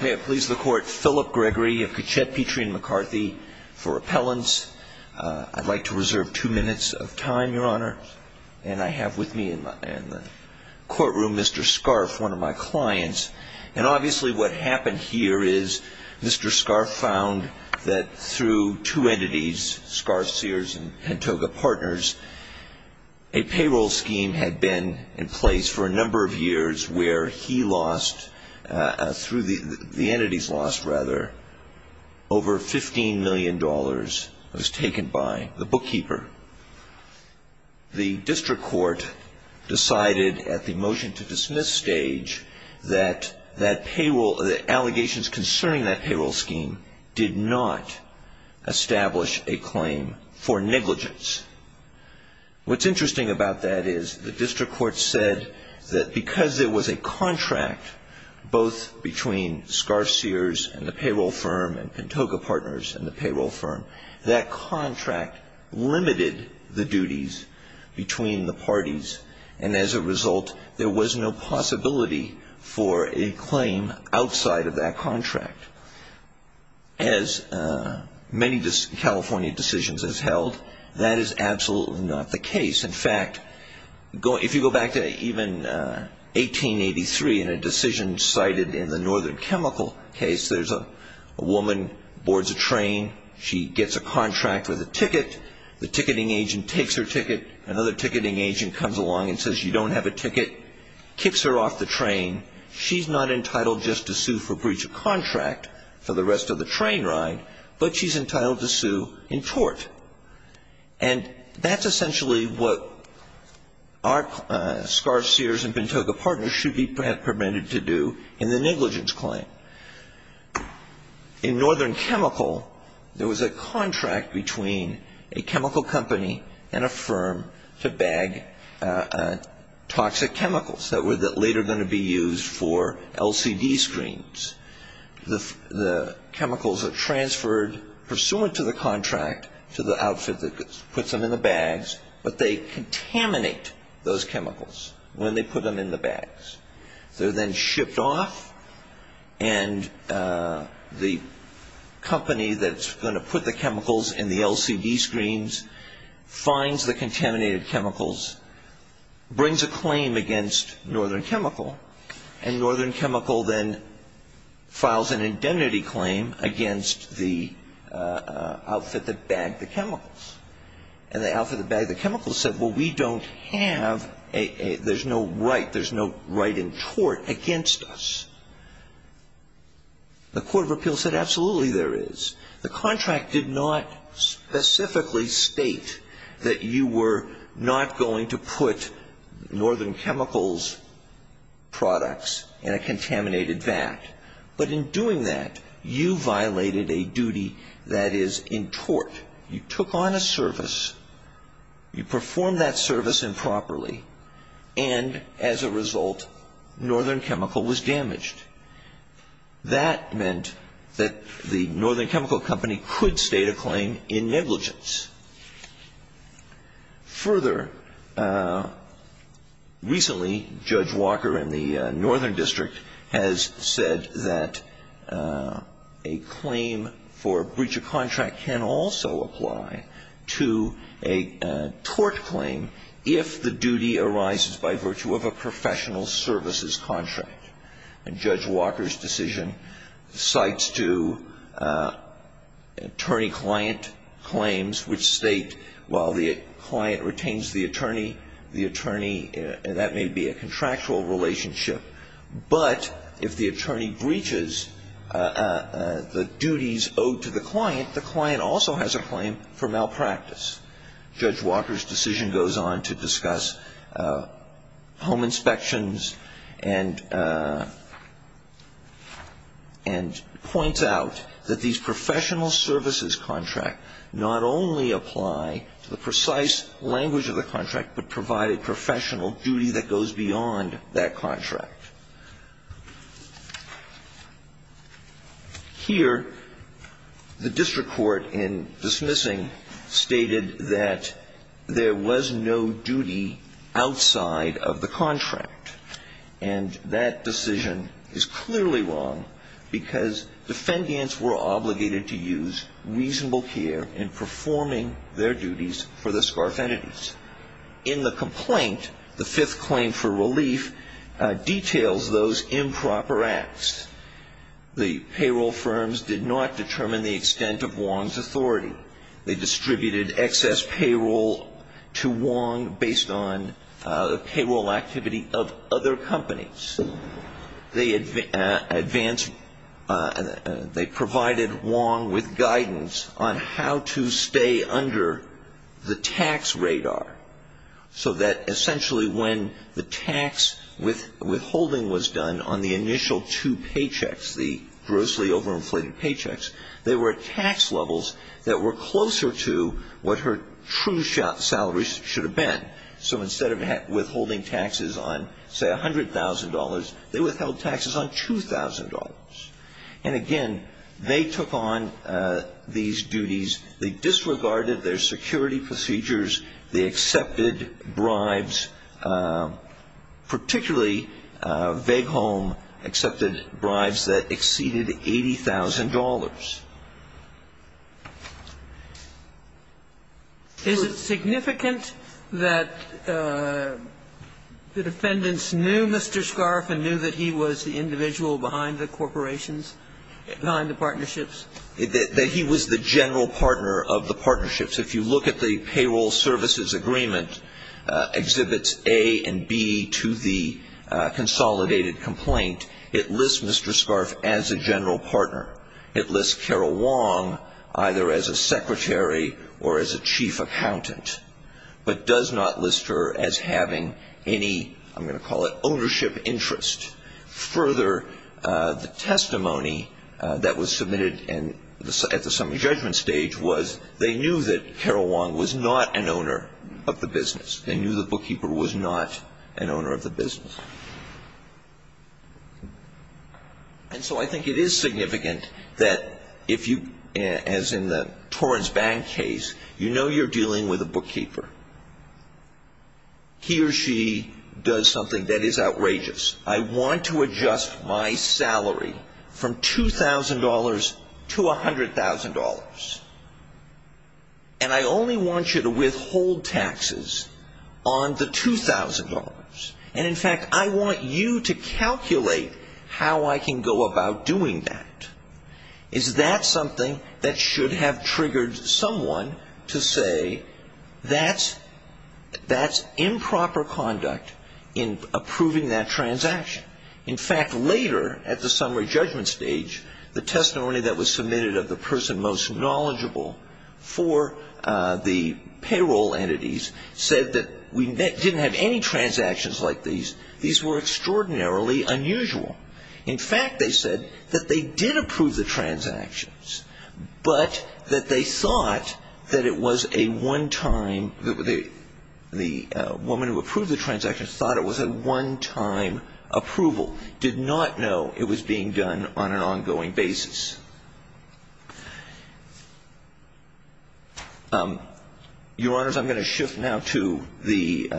May it please the court Philip Gregory of Kitchett Petrie and McCarthy for appellants I'd like to reserve two minutes of time your honor, and I have with me in my Courtroom mr. Scarf one of my clients and obviously what happened here is mr. Scarf found that through two entities Scarf Sears and Hantoga partners a Payroll scheme had been in place for a number of years where he lost Through the the entities lost rather Over 15 million dollars was taken by the bookkeeper the district court Decided at the motion to dismiss stage that that payroll the allegations concerning that payroll scheme did not establish a claim for negligence What's interesting about that is the district court said that because there was a contract? Both between Scarf Sears and the payroll firm and Hantoga partners and the payroll firm that contract limited the duties between the parties and as a result there was no possibility for a claim outside of that contract as Many just California decisions as held that is absolutely not the case in fact Go if you go back to even 1883 in a decision cited in the Northern Chemical case There's a woman boards a train She gets a contract with a ticket the ticketing agent takes her ticket another ticketing agent comes along and says you don't have a ticket Kicks her off the train She's not entitled just to sue for breach of contract for the rest of the train ride, but she's entitled to sue in tort and That's essentially what? our Scarf Sears and Hantoga partners should be prevented to do in the negligence claim In Northern Chemical there was a contract between a chemical company and a firm to bag Toxic chemicals that were that later going to be used for LCD screens the Chemicals are transferred pursuant to the contract to the outfit that puts them in the bags But they contaminate those chemicals when they put them in the bags. They're then shipped off and The Company that's going to put the chemicals in the LCD screens finds the contaminated chemicals brings a claim against Northern Chemical and Northern Chemical then files an indemnity claim against the Outfit that bagged the chemicals and the outfit that bagged the chemicals said well, we don't have a there's no right There's no right in tort against us The Court of Appeals said absolutely there is the contract did not Specifically state that you were not going to put Northern Chemicals Products and a contaminated vat but in doing that you violated a duty That is in tort you took on a service You perform that service improperly and as a result Northern Chemical was damaged That meant that the Northern Chemical company could state a claim in negligence Further Recently Judge Walker in the Northern District has said that a claim for breach of contract can also apply to a tort claim if the duty arises by virtue of a professional services contract and Judge Walker's decision cites to Attorney-client Claims which state while the client retains the attorney the attorney and that may be a contractual relationship but if the attorney breaches The duties owed to the client the client also has a claim for malpractice Judge Walker's decision goes on to discuss home inspections and And Points out that these professional services contract not only apply to the precise language of the contract But provided professional duty that goes beyond that contract Here the district court in dismissing stated that There was no duty outside of the contract and That decision is clearly wrong because Defendants were obligated to use reasonable care in performing their duties for the scarf entities in The complaint the fifth claim for relief details those improper acts The payroll firms did not determine the extent of Wong's authority they distributed excess payroll to Wong based on payroll activity of other companies they advance They provided Wong with guidance on how to stay under the tax radar So that essentially when the tax with withholding was done on the initial two paychecks the Grossly overinflated paychecks they were tax levels that were closer to what her true Salaries should have been so instead of withholding taxes on say a hundred thousand dollars They withheld taxes on two thousand dollars. And again, they took on These duties they disregarded their security procedures. They accepted bribes Particularly vague home accepted bribes that exceeded $80,000 Is it significant that The defendants knew mr. Scarf and knew that he was the individual behind the corporations Behind the partnerships it that he was the general partner of the partnerships. If you look at the payroll services agreement exhibits a and b to the Consolidated complaint it lists. Mr. Scarf as a general partner It lists Carol Wong either as a secretary or as a chief accountant But does not list her as having any I'm going to call it ownership interest further the testimony That was submitted and at the summary judgment stage was they knew that Carol Wong was not an owner of the business They knew the bookkeeper was not an owner of the business And So, I think it is significant that if you as in the Torrance bank case, you know, you're dealing with a bookkeeper He or she does something that is outrageous I want to adjust my salary from $2,000 to a hundred thousand dollars and I only want you to withhold taxes on $2,000 and in fact, I want you to calculate how I can go about doing that. Is That something that should have triggered someone to say that's That's improper conduct in Approving that transaction. In fact later at the summary judgment stage the testimony that was submitted of the person most knowledgeable for The payroll entities said that we didn't have any transactions like these these were extraordinarily Unusual. In fact, they said that they did approve the transactions but that they thought that it was a one-time that would be the Woman who approved the transactions thought it was a one-time Approval did not know it was being done on an ongoing basis Your honors I'm going to shift now to the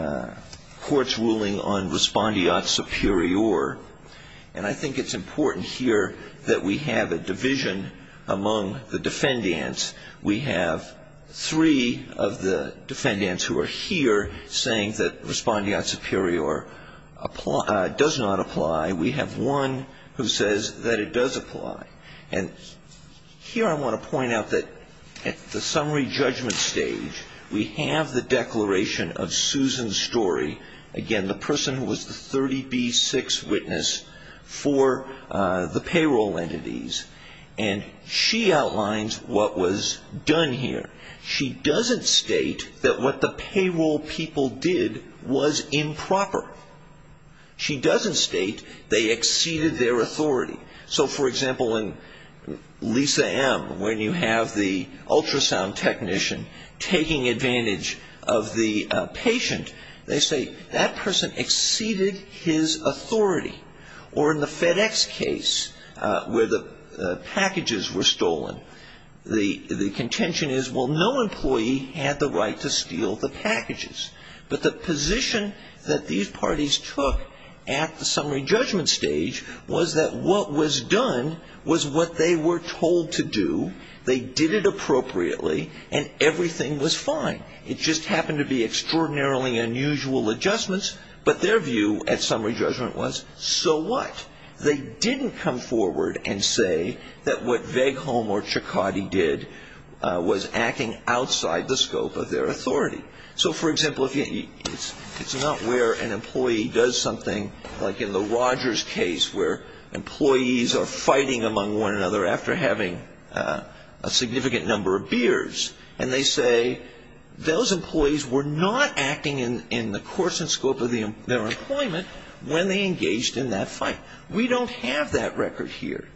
courts ruling on respondeat superior And I think it's important here that we have a division among the defendants We have three of the defendants who are here saying that respondeat superior Applied does not apply. We have one who says that it does apply and Here I want to point out that at the summary judgment stage We have the declaration of Susan's story again the person who was the 30b6 witness for the payroll entities and She outlines what was done here. She doesn't state that what the payroll people did was improper She doesn't state they exceeded their authority. So for example in Lisa M when you have the ultrasound technician taking advantage of the Patient they say that person exceeded his authority or in the FedEx case where the Packages were stolen the the contention is well No employee had the right to steal the packages But the position that these parties took at the summary judgment stage was that what was done? Was what they were told to do they did it appropriately and everything was fine It just happened to be extraordinarily unusual adjustments But their view at summary judgment was so what? They didn't come forward and say that what vague home or Chakotay did Was acting outside the scope of their authority so for example if you it's it's not where an employee does something like in the Rogers case where Employees are fighting among one another after having a significant number of beers and they say Those employees were not acting in in the course and scope of the their employment when they engaged in that fight We don't have that record here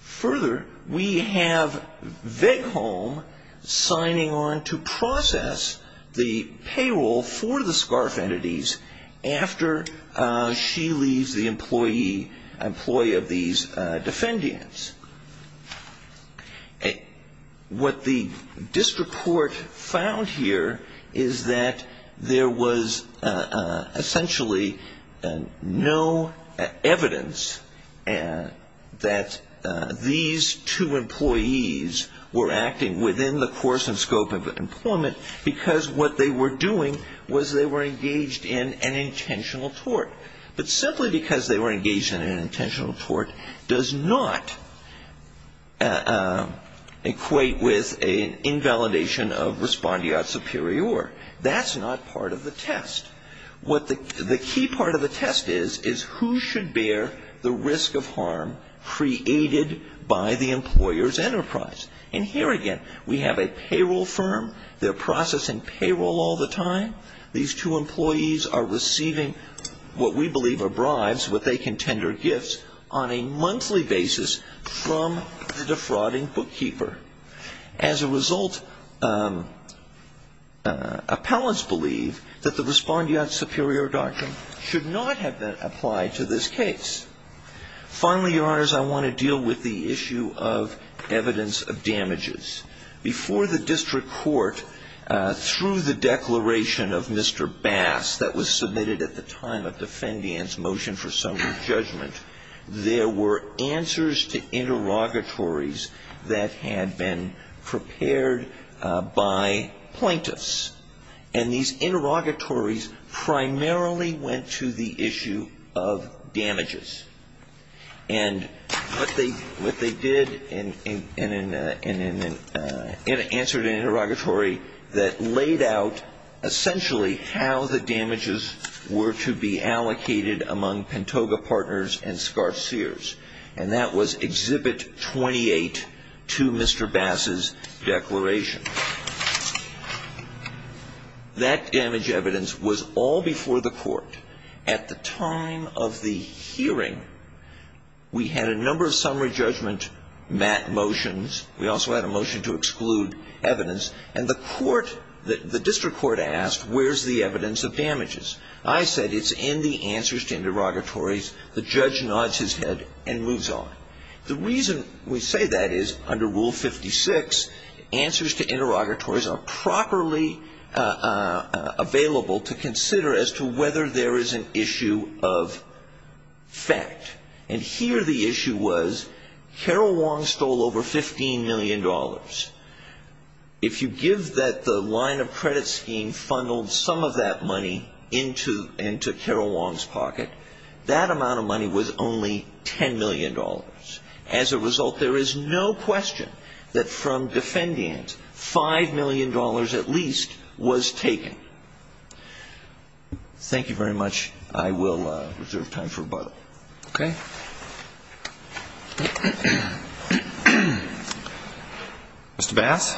further we have vague home Signing on to process the payroll for the scarf entities after She leaves the employee employee of these defendants What the district court found here is that there was essentially and no evidence and that these two employees Were acting within the course and scope of employment because what they were doing was they were engaged in an intentional But simply because they were engaged in an intentional report does not Equate with a Invalidation of respondeat superior that's not part of the test What the key part of the test is is who should bear the risk of harm? Created by the employers enterprise and here again. We have a payroll firm They're processing payroll all the time these two employees are receiving What we believe are bribes what they can tender gifts on a monthly basis from the defrauding bookkeeper as? a result Appellants believe that the respondeat superior doctrine should not have been applied to this case Finally your honors. I want to deal with the issue of Evidence of damages before the district court Through the declaration of mr. Bass that was submitted at the time of defendants motion for some judgment there were answers to interrogatories that had been prepared by plaintiffs and these interrogatories primarily went to the issue of damages and What they what they did in in in in in in in answered an interrogatory that laid out Essentially how the damages were to be allocated among Pantoga partners and scar seers and that was Exhibit 28 to mr. Bass's declaration That damage evidence was all before the court at the time of the hearing We had a number of summary judgment Matt motions we also had a motion to exclude evidence and the court that the district court asked Where's the evidence of damages? I said it's in the answers to interrogatories the judge nods his head and moves on The reason we say that is under rule 56 answers to interrogatories are properly Available to consider as to whether there is an issue of Fact and here the issue was Carol Wong stole over 15 million dollars If you give that the line of credit scheme funneled some of that money into and to Carol Wong's pocket That amount of money was only ten million dollars as a result There is no question that from defendants five million dollars at least was taken Thank you very much, I will reserve time for a bottle, okay Mr. Bass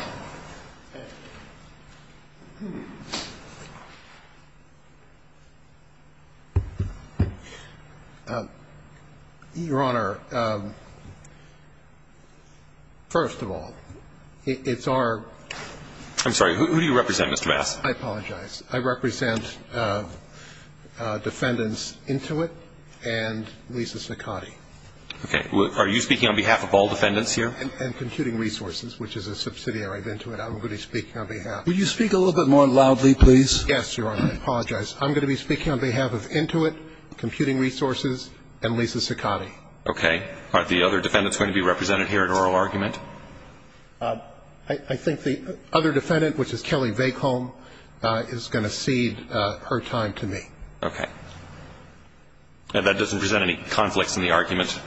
Your honor First of all, it's our I'm sorry. Who do you represent? Mr. Bass? I apologize. I represent Defendants into it and Lisa Ciccotti, okay Are you speaking on behalf of all defendants here and computing resources, which is a subsidiary of into it? I'm going to be speaking on behalf. Will you speak a little bit more loudly, please? Yes, your honor I apologize. I'm gonna be speaking on behalf of into it computing resources and Lisa Ciccotti. Okay, thank you Are the other defendants going to be represented here at oral argument? I Think the other defendant which is Kelly bake home is gonna cede her time to me, okay And that doesn't present any conflicts in the argument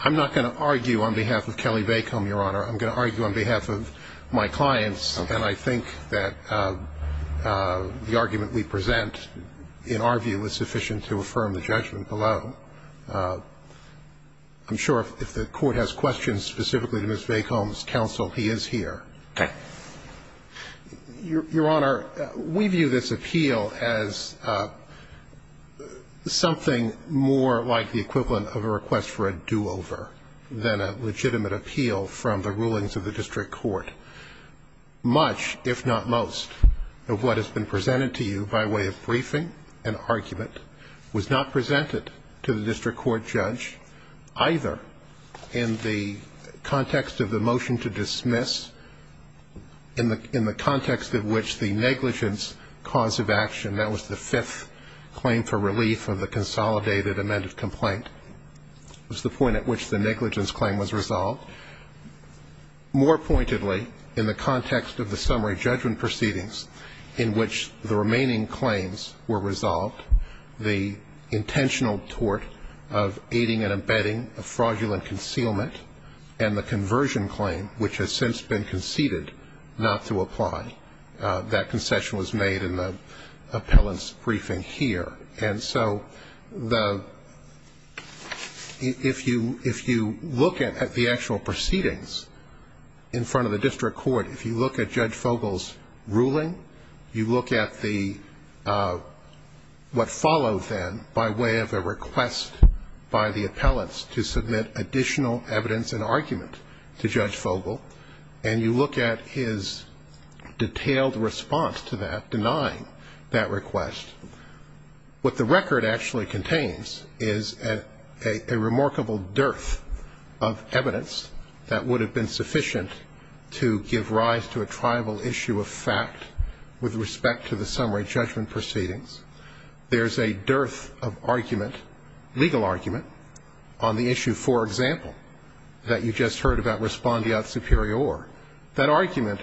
I'm not gonna argue on behalf of Kelly bake home your honor. I'm gonna argue on behalf of my clients and I think that The argument we present in our view is sufficient to affirm the judgment below I'm Sure, if the court has questions specifically to miss bake homes counsel, he is here. Okay your honor we view this appeal as Something more like the equivalent of a request for a do-over Than a legitimate appeal from the rulings of the district court Much if not most of what has been presented to you by way of briefing an argument Was not presented to the district court judge either in the context of the motion to dismiss In the in the context of which the negligence cause of action that was the fifth Claim for relief of the consolidated amended complaint Was the point at which the negligence claim was resolved? More pointedly in the context of the summary judgment proceedings in which the remaining claims were resolved the intentional tort of Aiding and abetting a fraudulent concealment and the conversion claim which has since been conceded not to apply that concession was made in the appellants briefing here and so the If you if you look at the actual proceedings In front of the district court, if you look at judge Fogle's ruling you look at the What followed then by way of a request by the appellants to submit additional evidence and argument to judge Fogle and you look at his Detailed response to that denying that request what the record actually contains is a remarkable dearth of Evidence that would have been sufficient to give rise to a tribal issue of fact With respect to the summary judgment proceedings There's a dearth of argument legal argument on the issue For example that you just heard about respondeat superior that argument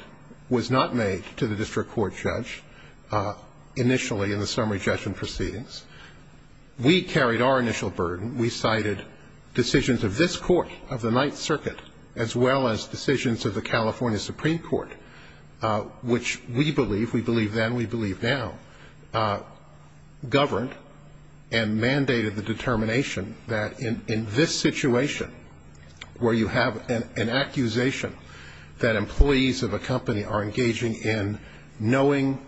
was not made to the district court judge initially in the summary judgment proceedings We carried our initial burden. We cited Decisions of this Court of the Ninth Circuit as well as decisions of the California Supreme Court Which we believe we believe then we believe now Governed and mandated the determination that in in this situation Where you have an accusation that employees of a company are engaging in knowing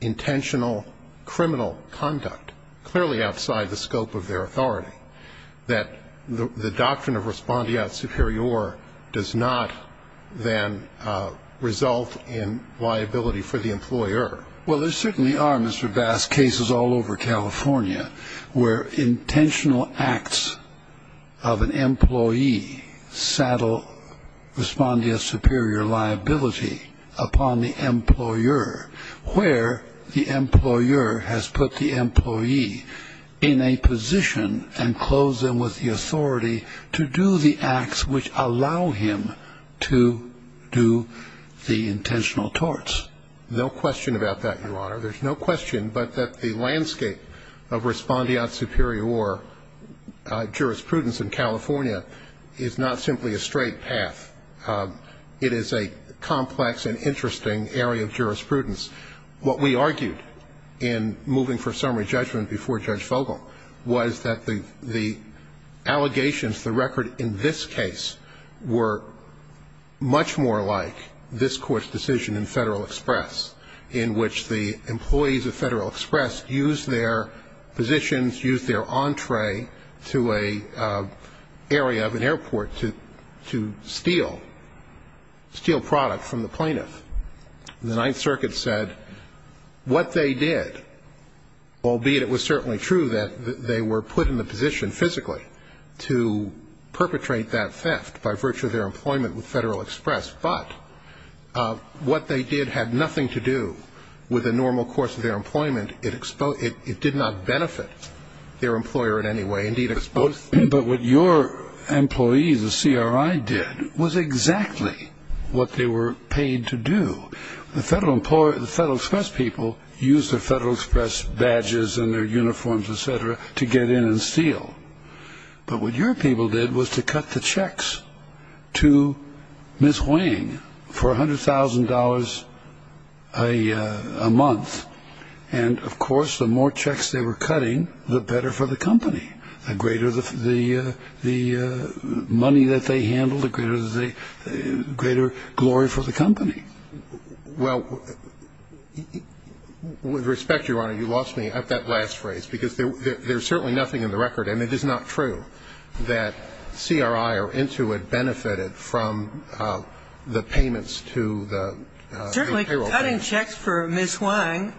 intentional criminal conduct clearly outside the scope of their authority that the doctrine of respondeat superior does not then Result in liability for the employer. Well, there certainly are mr. Bass cases all over, California where intentional acts of an employee saddle respondeat superior liability upon the employer where the employer has put the employee in a Position and close them with the authority to do the acts which allow him to Do the intentional torts no question about that your honor. There's no question, but that the landscape of respondeat superior Jurisprudence in California is not simply a straight path It is a complex and interesting area of jurisprudence what we argued in moving for summary judgment before judge Fogle was that the the allegations the record in this case were Much more like this court's decision in Federal Express in which the employees of Federal Express used their positions used their entree to a area of an airport to to steal steal product from the plaintiff the Ninth Circuit said What they did? all be it was certainly true that they were put in the position physically to perpetrate that theft by virtue of their employment with Federal Express, but What they did had nothing to do with a normal course of their employment it exposed it did not benefit Their employer in any way indeed exposed, but what your employees the CRI did was exactly What they were paid to do the federal employer the Federal Express people use the Federal Express Badges and their uniforms etc to get in and steal But what your people did was to cut the checks to miss weighing for a hundred thousand dollars a Month and of course the more checks they were cutting the better for the company the greater the the money that they handled the greater the greater glory for the company well With respect your honor you lost me at that last phrase because there's certainly nothing in the record and it is not true that CRI or into it benefited from the payments to the Cutting checks for miss Wang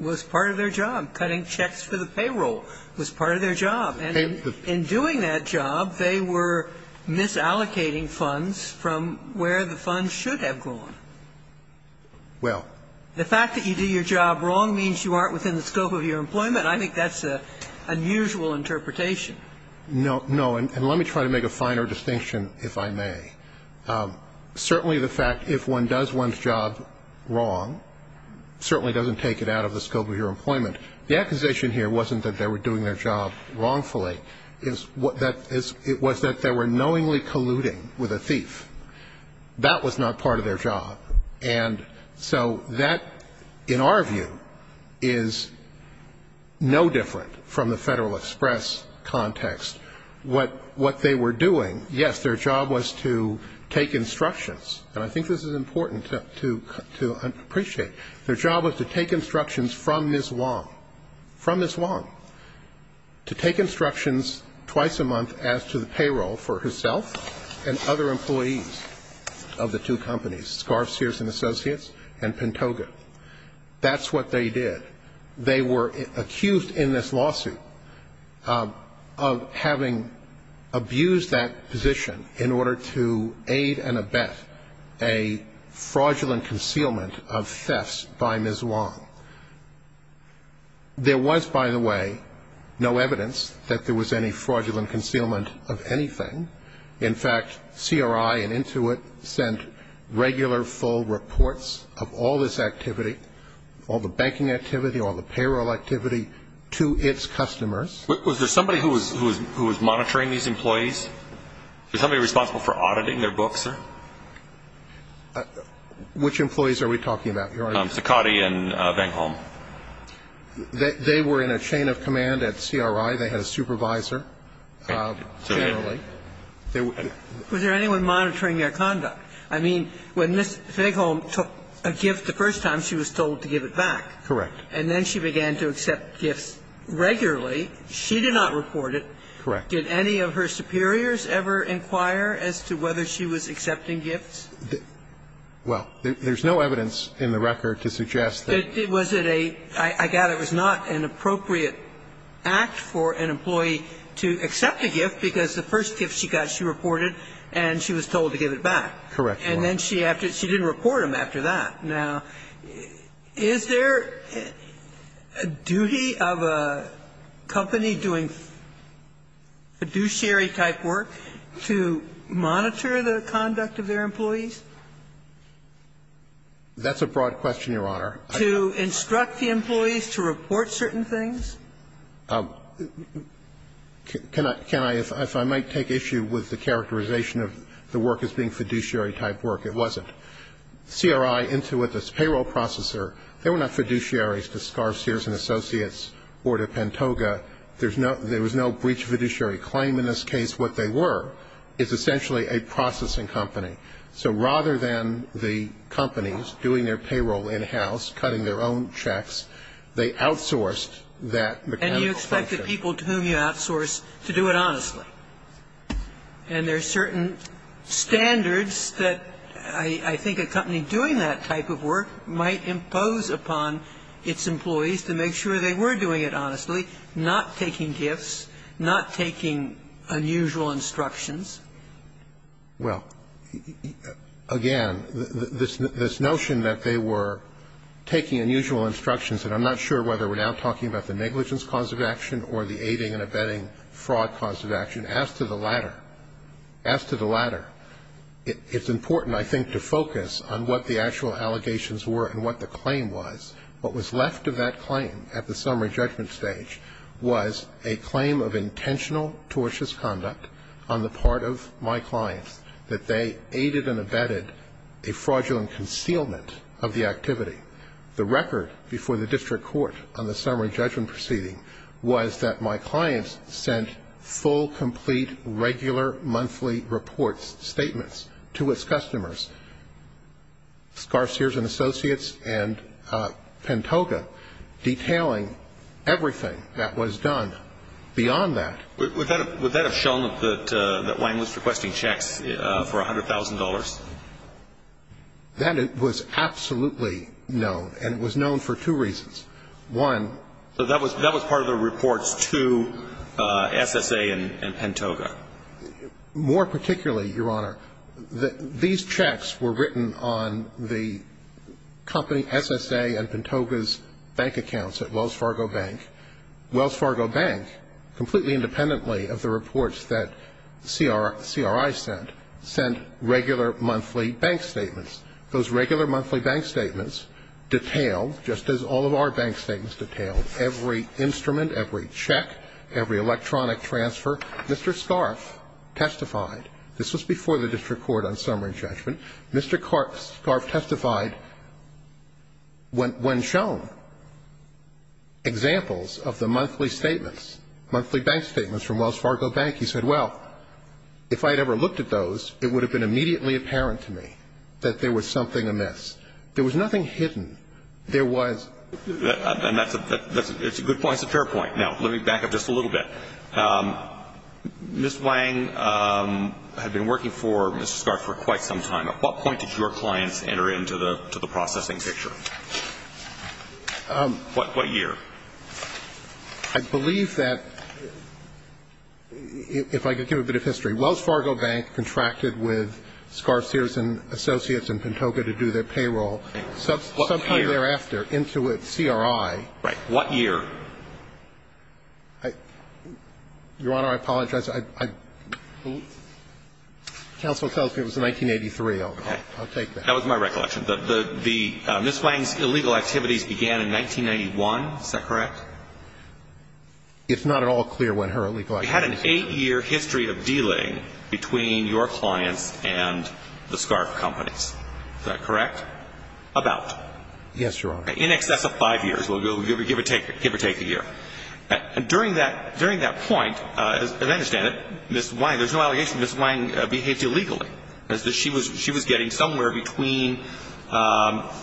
Was part of their job cutting checks for the payroll was part of their job and in doing that job. They were Misallocating funds from where the funds should have gone Well the fact that you do your job wrong means you aren't within the scope of your employment. I think that's a Unusual interpretation no no and let me try to make a finer distinction if I may Certainly the fact if one does one's job wrong Certainly doesn't take it out of the scope of your employment the accusation here wasn't that they were doing their job wrongfully Is what that is it was that there were knowingly colluding with a thief? That was not part of their job. And so that in our view is No different from the Federal Express Context what what they were doing? Yes, their job was to take instructions And I think this is important to to appreciate their job was to take instructions from this long from this long To take instructions twice a month as to the payroll for herself and other employees Of the two companies scarves Sears and Associates and Pantoga That's what they did they were accused in this lawsuit of having abused that position in order to aid and abet a fraudulent concealment of thefts by Ms. Wong There was by the way No evidence that there was any fraudulent concealment of anything in fact CRI and Intuit sent Regular full reports of all this activity all the banking activity all the payroll activity to its customers Was there somebody who was who was monitoring these employees? There's somebody responsible for auditing their books Which employees are we talking about Saccardi and Vang Holm That they were in a chain of command at CRI. They had a supervisor Generally There was there anyone monitoring their conduct? I mean when this big home took a gift the first time she was told to give it back Correct, and then she began to accept gifts regularly She did not report it correct did any of her superiors ever inquire as to whether she was accepting gifts Well, there's no evidence in the record to suggest that it was it a I got it was not an appropriate Act for an employee to accept a gift because the first gift she got she reported and she was told to give it back Correct, and then she after she didn't report him after that now is there a duty of a company doing Fiduciary type work to monitor the conduct of their employees That's a broad question your honor to instruct the employees to report certain things um Can I can I if I might take issue with the characterization of the work as being fiduciary type work it wasn't CRI into it this payroll processor. They were not fiduciaries to scar Sears and Associates or to Pentoga There's no there was no breach of fiduciary claim in this case what they were is essentially a processing company So rather than the companies doing their payroll in-house cutting their own checks They outsourced that and you expect the people to whom you outsource to do it honestly and there are certain Standards that I I think a company doing that type of work might impose upon Its employees to make sure they were doing it honestly not taking gifts not taking unusual instructions well again this this notion that they were Taking unusual instructions And I'm not sure whether we're now talking about the negligence cause of action or the aiding and abetting fraud cause of action as to the latter as to the latter It's important I think to focus on what the actual allegations were and what the claim was what was left of that claim at the summary judgment Stage was a claim of intentional tortious conduct on the part of my clients that they aided and abetted a The record before the district court on the summary judgment proceeding was that my clients sent full complete regular monthly reports statements to its customers Scarse ears and associates and Pentoga Detailing everything that was done beyond that without it would that have shown that that Wang was requesting checks for a hundred thousand dollars That it was absolutely known and it was known for two reasons one so that was that was part of the reports to SSA and Pentoga more particularly your honor that these checks were written on the Company SSA and Pentoga's bank accounts at Wells Fargo Bank Wells Fargo Bank Completely independently of the reports that CR CRI sent sent regular monthly bank statements those regular monthly bank statements Detailed just as all of our bank statements detailed every instrument every check every electronic transfer. Mr. Scarf Testified this was before the district court on summary judgment. Mr. Clark scarf testified when when shown Examples of the monthly statements monthly bank statements from Wells Fargo Bank. He said well If I'd ever looked at those it would have been immediately apparent to me that there was something amiss. There was nothing hidden There was And that's a good point. It's a fair point. Now, let me back up just a little bit Miss Wang Had been working for mr. Scarf for quite some time at what point did your clients enter into the to the processing picture? What what year I believe that If I could give a bit of history Wells Fargo Bank contracted with Scarf-steers and associates and Pentoga to do their payroll Something thereafter into it CRI, right? What year? I Your honor. I apologize. I Counsel tells me it was in 1983. Okay, I'll take that was my recollection The the miss Wang's illegal activities began in 1991. Is that correct? it's not at all clear when her legal I had an eight-year history of dealing between your clients and The scarf companies that correct about yes, your honor in excess of five years We'll go give or take it give or take a year and during that during that point Understand it miss wine. There's no allegation. This wine behaved illegally as that she was she was getting somewhere between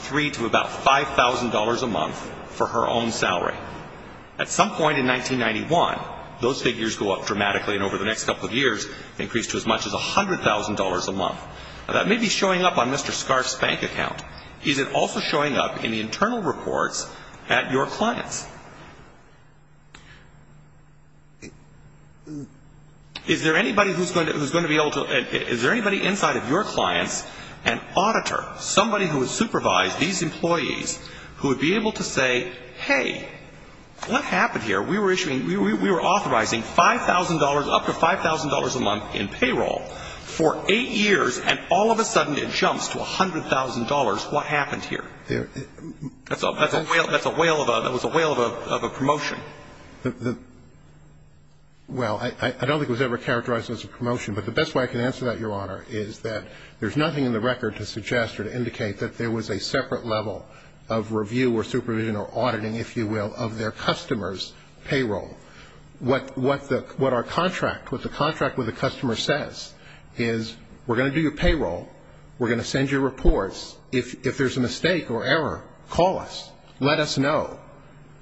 Three to about five thousand dollars a month for her own salary at some point in 1991 Those figures go up dramatically and over the next couple of years increased to as much as a hundred thousand dollars a month Now that may be showing up on mr. Scarf's bank account. Is it also showing up in the internal reports at your clients? Is there anybody who's going to who's going to be able to is there anybody inside of your clients an Auditor somebody who has supervised these employees who would be able to say hey What happened here? We were issuing we were authorizing five thousand dollars up to five thousand dollars a month in payroll For eight years and all of a sudden it jumps to a hundred thousand dollars. What happened here? That's all that's a whale. That's a whale of a that was a whale of a promotion Well, I don't think was ever characterized as a promotion but the best way I can answer that your honor is that there's nothing in the record to suggest or to indicate that there was A separate level of review or supervision or auditing if you will of their customers payroll What what the what our contract with the contract with the customer says is we're going to do your payroll we're going to send your reports if there's a mistake or error call us let us know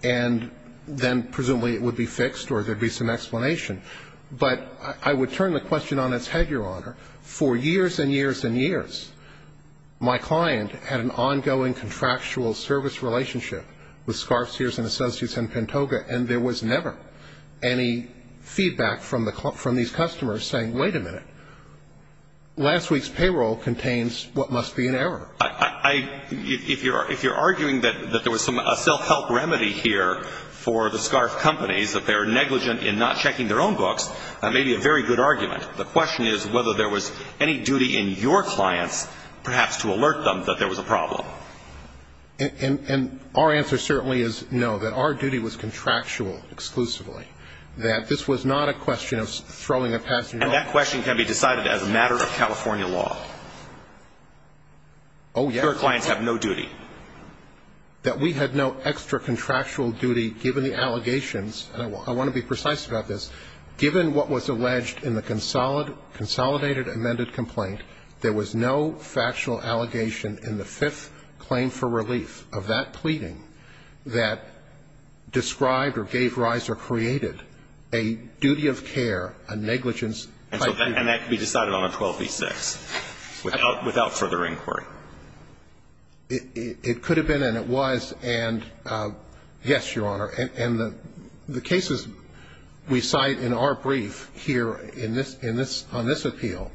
and Then presumably it would be fixed or there'd be some explanation But I would turn the question on its head your honor for years and years and years My client had an ongoing contractual service relationship with scarf seers and associates and Pantoga and there was never any Feedback from the club from these customers saying wait a minute last week's payroll contains what must be an error I If you're if you're arguing that that there was some a self-help remedy here For the scarf companies that they're negligent in not checking their own books That may be a very good argument. The question is whether there was any duty in your clients perhaps to alert them that there was a problem And and our answer certainly is no that our duty was contractual Exclusively that this was not a question of throwing a pass and that question can be decided as a matter of California law. Oh Clients have no duty That we had no extra contractual duty given the allegations and I want to be precise about this Given what was alleged in the consolidated consolidated amended complaint? there was no factual allegation in the fifth claim for relief of that pleading that Described or gave rise or created a duty of care a negligence and that can be decided on a 12 v 6 without without further inquiry It could have been and it was and Yes, your honor and the the cases We cite in our brief here in this in this on this appeal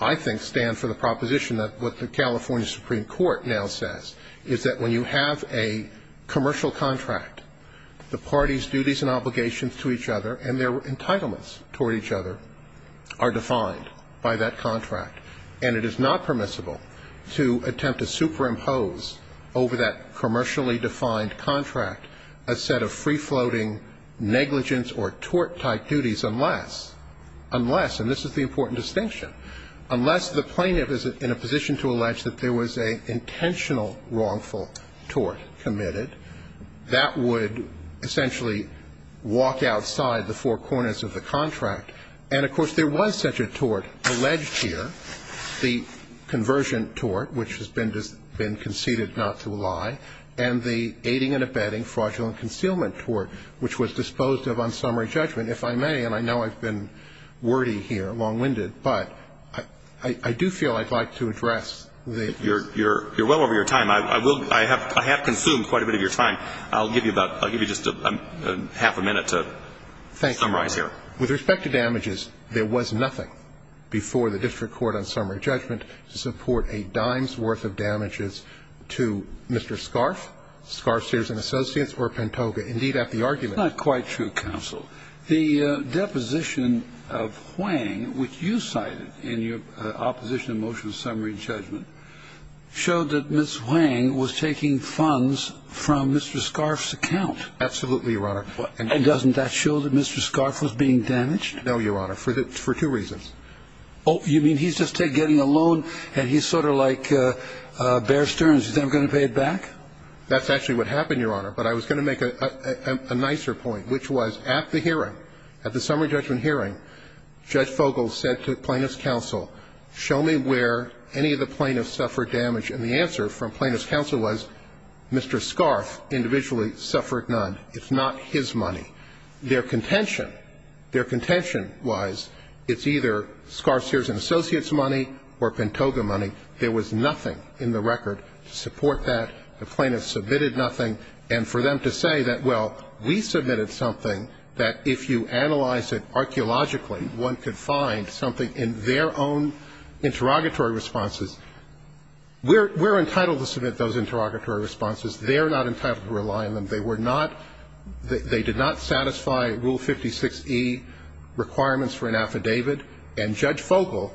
I think stand for the proposition that what the California Supreme Court now says is that when you have a commercial contract The parties duties and obligations to each other and their entitlements toward each other are defined by that contract and it is not permissible to attempt to superimpose over that commercially defined contract a set of free-floating negligence or tort type duties unless Unless and this is the important distinction Unless the plaintiff is in a position to allege that there was a intentional wrongful tort committed That would essentially Walk outside the four corners of the contract and of course there was such a tort alleged here the Conversion tort which has been just been conceded not to lie and the aiding and abetting fraudulent concealment tort Which was disposed of on summary judgment if I may and I know I've been Wordy here long-winded, but I I do feel I'd like to address the you're you're you're well over your time I will I have I have consumed quite a bit of your time. I'll give you about I'll give you just a half a minute to Thank you, I'm right here with respect to damages There was nothing before the district court on summary judgment to support a dime's worth of damages to mr. Scarf scarf Sears and Associates or Pantoga indeed at the argument quite true counsel the deposition of Hwang which you cited in your opposition motion summary judgment Showed that miss Hwang was taking funds from mr. Scarf's account absolutely your honor and doesn't that show that mr. Scarf was being damaged no your honor for that for two reasons. Oh, you mean he's just taking a loan, and he's sort of like Bear Stearns is I'm gonna pay it back. That's actually what happened your honor, but I was gonna make a Nicer point which was at the hearing at the summary judgment hearing Judge Fogel said to plaintiffs counsel show me where any of the plaintiffs suffered damage and the answer from plaintiffs counsel was Mr. Scarf Individually suffered none. It's not his money their contention their contention wise It's either scarf Sears and Associates money or Pantoga money There was nothing in the record to support that the plaintiffs submitted nothing and for them to say that well We submitted something that if you analyze it Archaeologically one could find something in their own interrogatory responses We're we're entitled to submit those interrogatory responses. They are not entitled to rely on them. They were not They did not satisfy rule 56e requirements for an affidavit and judge Fogel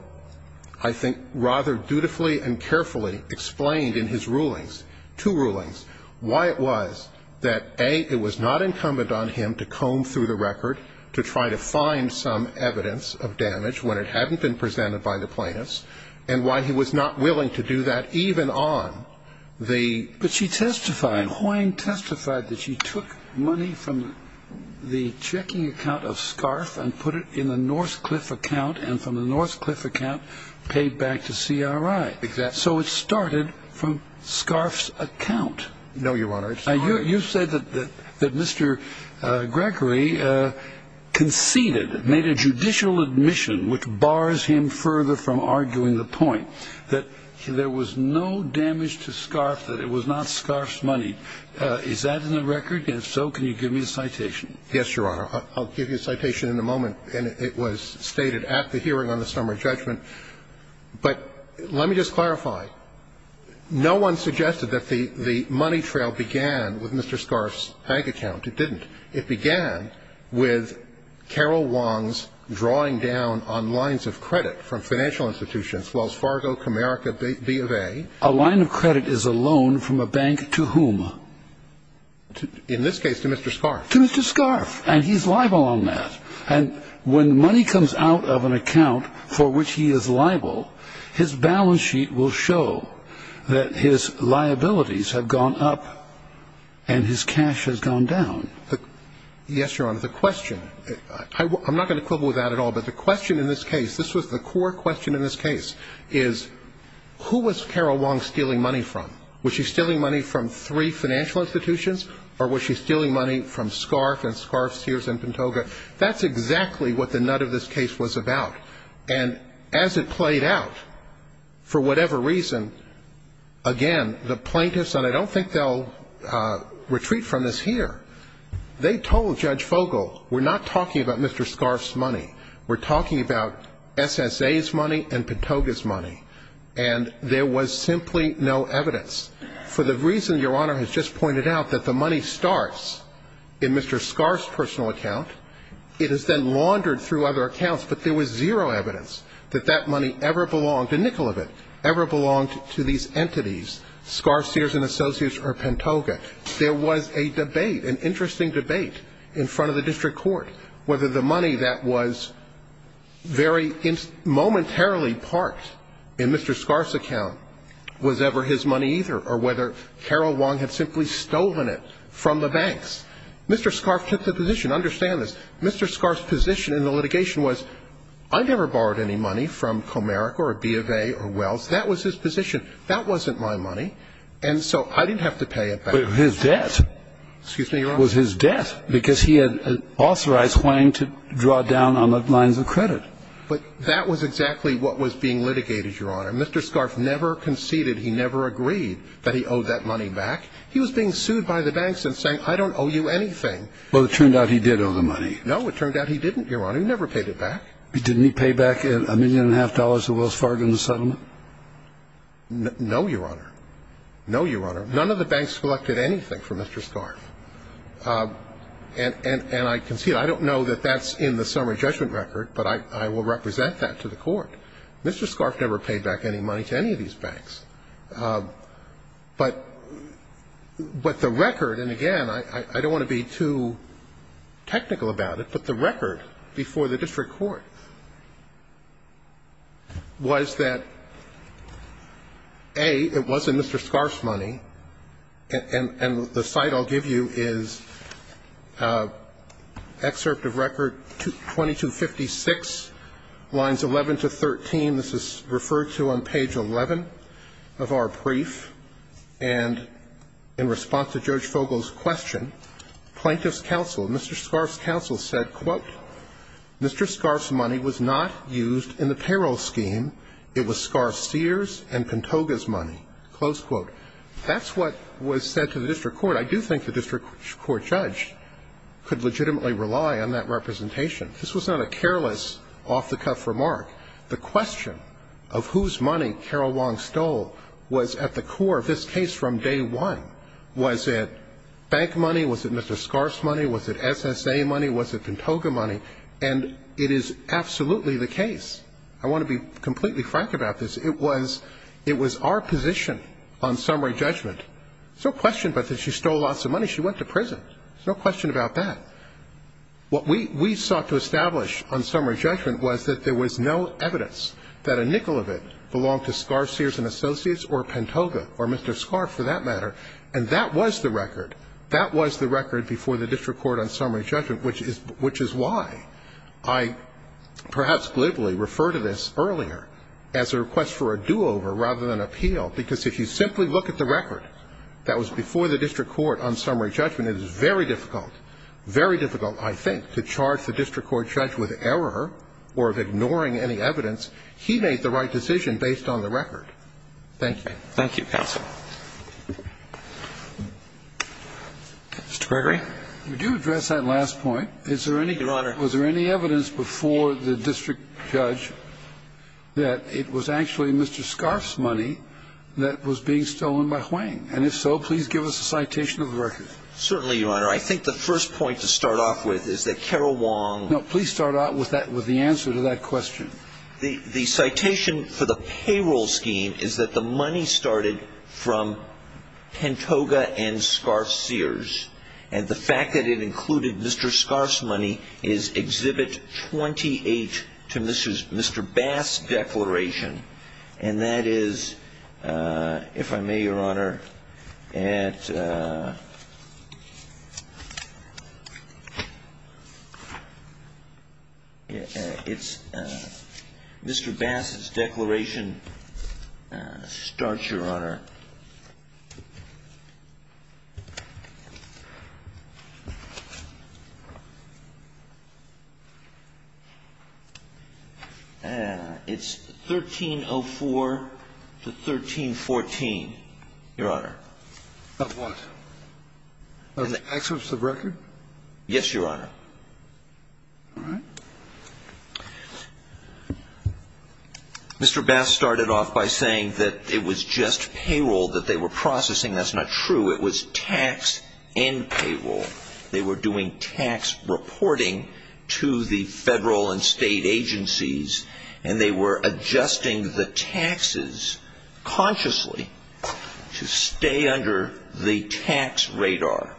I Think rather dutifully and carefully explained in his rulings two rulings why it was that a it was not incumbent on him to comb through the record to try to find some evidence of damage when it hadn't been presented by the and I'm not willing to do that even on the but she testified Hoyne testified that she took money from The checking account of scarf and put it in the Northcliffe account and from the Northcliffe account Paid back to CRI exact so it started from Scarf's account. No your honor. I knew you said that that that mr. Gregory Conceded made a judicial admission which bars him further from arguing the point that There was no damage to scarf that it was not Scarf's money. Is that in the record? Yes, so can you give me a citation? Yes, your honor I'll give you a citation in a moment and it was stated at the hearing on the summary judgment But let me just clarify No one suggested that the the money trail began with mr. Scarf's bank account. It didn't it began with Carol Wong's drawing down on lines of credit from financial institutions Wells Fargo Comerica B of a a line of credit is a loan from a bank to whom? To in this case to mr. Scarf to mr. Scarf and he's liable on that and when money comes out of an account for which he is liable his balance sheet will show that his liabilities have gone up and His cash has gone down the yes, your honor the question I'm not going to quibble with that at all. But the question in this case, this was the core question in this case is Who was Carol Wong stealing money from which is stealing money from three financial institutions? Or was she stealing money from scarf and scarf Sears and Pantoga? That's exactly what the nut of this case was about and as it played out for whatever reason Again, the plaintiffs and I don't think they'll Retreat from this here They told judge Fogle. We're not talking about. Mr. Scarf's money. We're talking about SSA's money and Pantoga's money and There was simply no evidence for the reason your honor has just pointed out that the money starts in Mr. Scarf's personal account it has been laundered through other accounts But there was zero evidence that that money ever belonged to nickel of it ever belonged to these entities Scar Sears and associates or Pantoga there was a debate an interesting debate in front of the district court whether the money that was very momentarily parked in mr. Scar's account was ever his money either or whether Carol Wong had simply stolen it from the banks. Mr Scarf took the position understand this. Mr. Scarf's position in the litigation was I never borrowed any money from Comerica or B of A Or Wells, that was his position. That wasn't my money. And so I didn't have to pay it back his debt Excuse me was his death because he had authorized Wang to draw down on the lines of credit But that was exactly what was being litigated your honor. Mr. Scarf never conceded He never agreed that he owed that money back. He was being sued by the banks and saying I don't owe you anything Well, it turned out he did owe the money. No, it turned out he didn't your honor. He never paid it back Didn't he pay back in a million and a half dollars to Wells Fargo in the settlement No, your honor. No, your honor. None of the banks collected anything from mr. Scarf And and and I concede I don't know that that's in the summary judgment record, but I will represent that to the court Mr. Scarf never paid back any money to any of these banks But But the record and again, I don't want to be too Technical about it, but the record before the district court Was that Hey, it wasn't mr. Scarf's money and and the site I'll give you is Excerpt of record to 2256 Lines 11 to 13. This is referred to on page 11 of our brief and in response to George Fogel's question Plaintiff's counsel. Mr. Scarf's counsel said quote Mr. Scarf's money was not used in the payroll scheme. It was scar Sears and Pantoga's money close quote That's what was said to the district court. I do think the district court judge Could legitimately rely on that representation. This was not a careless off-the-cuff remark The question of whose money Carol Wong stole was at the core of this case from day one Was it bank money? Was it mr. Scarf's money? Was it SSA money? Was it Pantoga money and it is absolutely the case. I want to be completely frank about this It was it was our position on summary judgment. So question, but that she stole lots of money. She went to prison There's no question about that What we we sought to establish on summary judgment was that there was no evidence That a nickel of it belonged to scar Sears and associates or Pantoga or mr Scarf for that matter and that was the record that was the record before the district court on summary judgment, which is which is why I Perhaps glibly refer to this earlier as a request for a do-over rather than appeal because if you simply look at the record That was before the district court on summary judgment. It is very difficult Very difficult, I think to charge the district court judge with error or of ignoring any evidence He made the right decision based on the record. Thank you. Thank you counsel Mr. Gregory, we do address that last point. Is there any your honor? Was there any evidence before the district judge? That it was actually mr. Scarf's money that was being stolen by Hwang. And if so, please give us a citation of the record Certainly, your honor. I think the first point to start off with is that Carol Wong? No, please start out with that with the answer to that question The the citation for the payroll scheme is that the money started from Pantoga and scarf Sears and the fact that it included mr. Scarf's money is Exhibit 28 to mrs. Mr. Bass declaration and that is if I may your honor and It's It's mr. Bass's declaration starts your honor It's 1304 to 1314 your honor And the access of record, yes, your honor Mr. Bass started off by saying that it was just payroll that they were processing. That's not true. It was tax and Payroll, they were doing tax reporting to the federal and state agencies and they were adjusting the taxes consciously To stay under the tax radar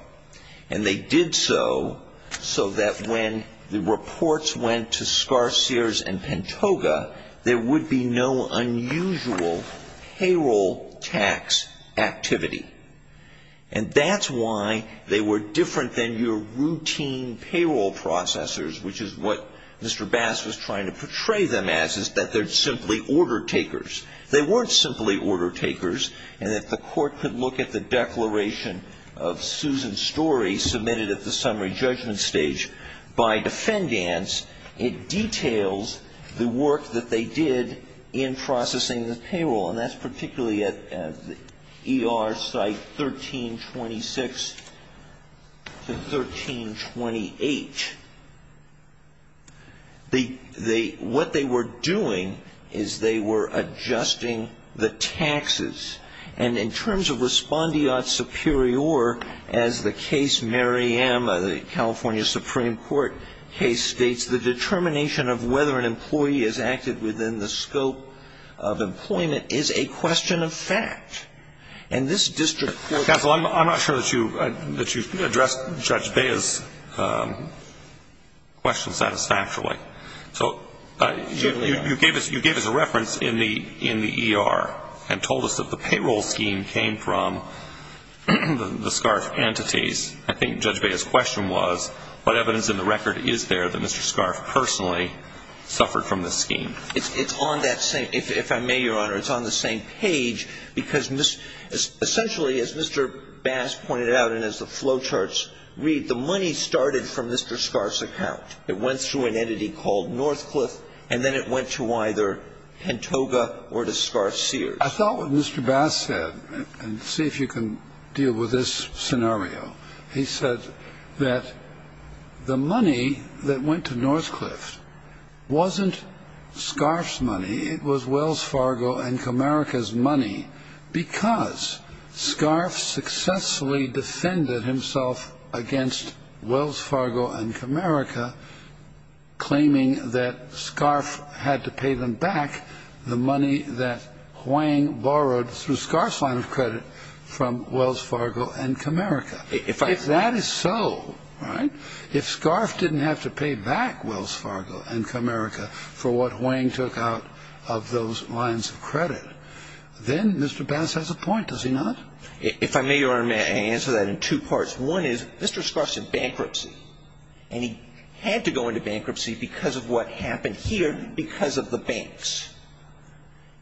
and they did so So that when the reports went to scarf Sears and Pantoga there would be no unusual payroll tax activity and That's why they were different than your routine payroll processors, which is what mr Bass was trying to portray them as is that they're simply order takers They weren't simply order takers and that the court could look at the declaration of Susan's story submitted at the summary judgment stage by defendants It details the work that they did in processing the payroll and that's particularly at er site 1326 to 1328 The the what they were doing is they were adjusting the taxes and in terms of respondeat superior as the case Maryam of the California Supreme Court case states the determination of whether an employee is acted within the scope of Employment is a question of fact and this district. That's all I'm not sure that you that you addressed judge Bayes Question satisfactorily, so You gave us you gave us a reference in the in the ER and told us that the payroll scheme came from The scarf entities. I think judge Bayes question was what evidence in the record is there that mr. Scarf personally? Suffered from this scheme. It's on that same if I may your honor. It's on the same page because miss Essentially as mr. Bass pointed out and as the flowcharts read the money that was being paid Started from mr. Scarf's account it went through an entity called Northcliffe, and then it went to either Antoga or to scarf sears. I thought what mr. Bass said and see if you can deal with this scenario he said that the money that went to Northcliffe Wasn't scarf's money. It was Wells Fargo and Camerica's money because Scarf's successfully defended himself against Wells Fargo and Camerica Claiming that scarf had to pay them back the money that Wang borrowed through scarf's line of credit from Wells Fargo and Camerica if I if that is so Right if scarf didn't have to pay back Wells Fargo and Camerica for what Wang took out of those lines of credit Then mr. Bass has a point does he not if I may or may answer that in two parts one is mr. Scarf's in bankruptcy, and he had to go into bankruptcy because of what happened here because of the banks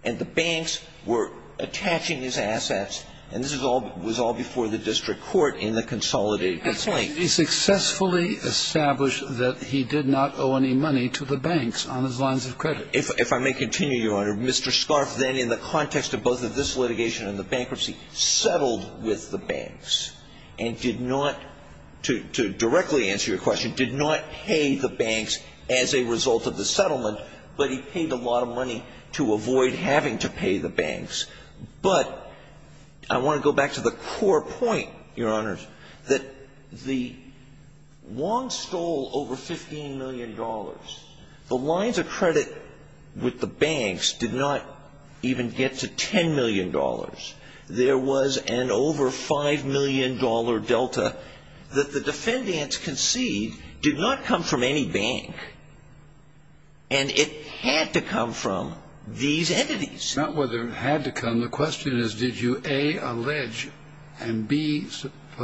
and the banks were Attaching his assets, and this is all was all before the district court in the consolidated. It's like he Successfully established that he did not owe any money to the banks on his lines of credit if I may continue your honor mr. Scarf then in the context of both of this litigation and the bankruptcy Settled with the banks and did not To directly answer your question did not pay the banks as a result of the settlement But he paid a lot of money to avoid having to pay the banks but I want to go back to the core point your honors that the Long stole over 15 million dollars the lines of credit With the banks did not even get to 10 million dollars there was an over 5 million dollar Delta that the defendants concede did not come from any bank and It had to come from these entities not whether it had to come the question is did you a allege and be?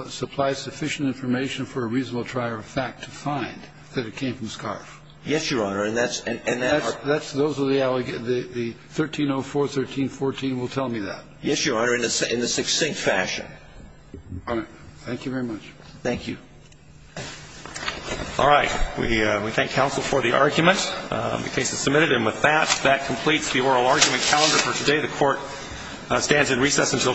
Supply sufficient information for a reasonable trier of fact to find that it came from scarf. Yes, your honor, and that's That's those are the allegations the 1304 1314 will tell me that yes, your honor in this in the succinct fashion Thank you very much. Thank you All right, we thank counsel for the argument the case is submitted and with that that completes the oral argument calendar for today the court stands in recess until tomorrow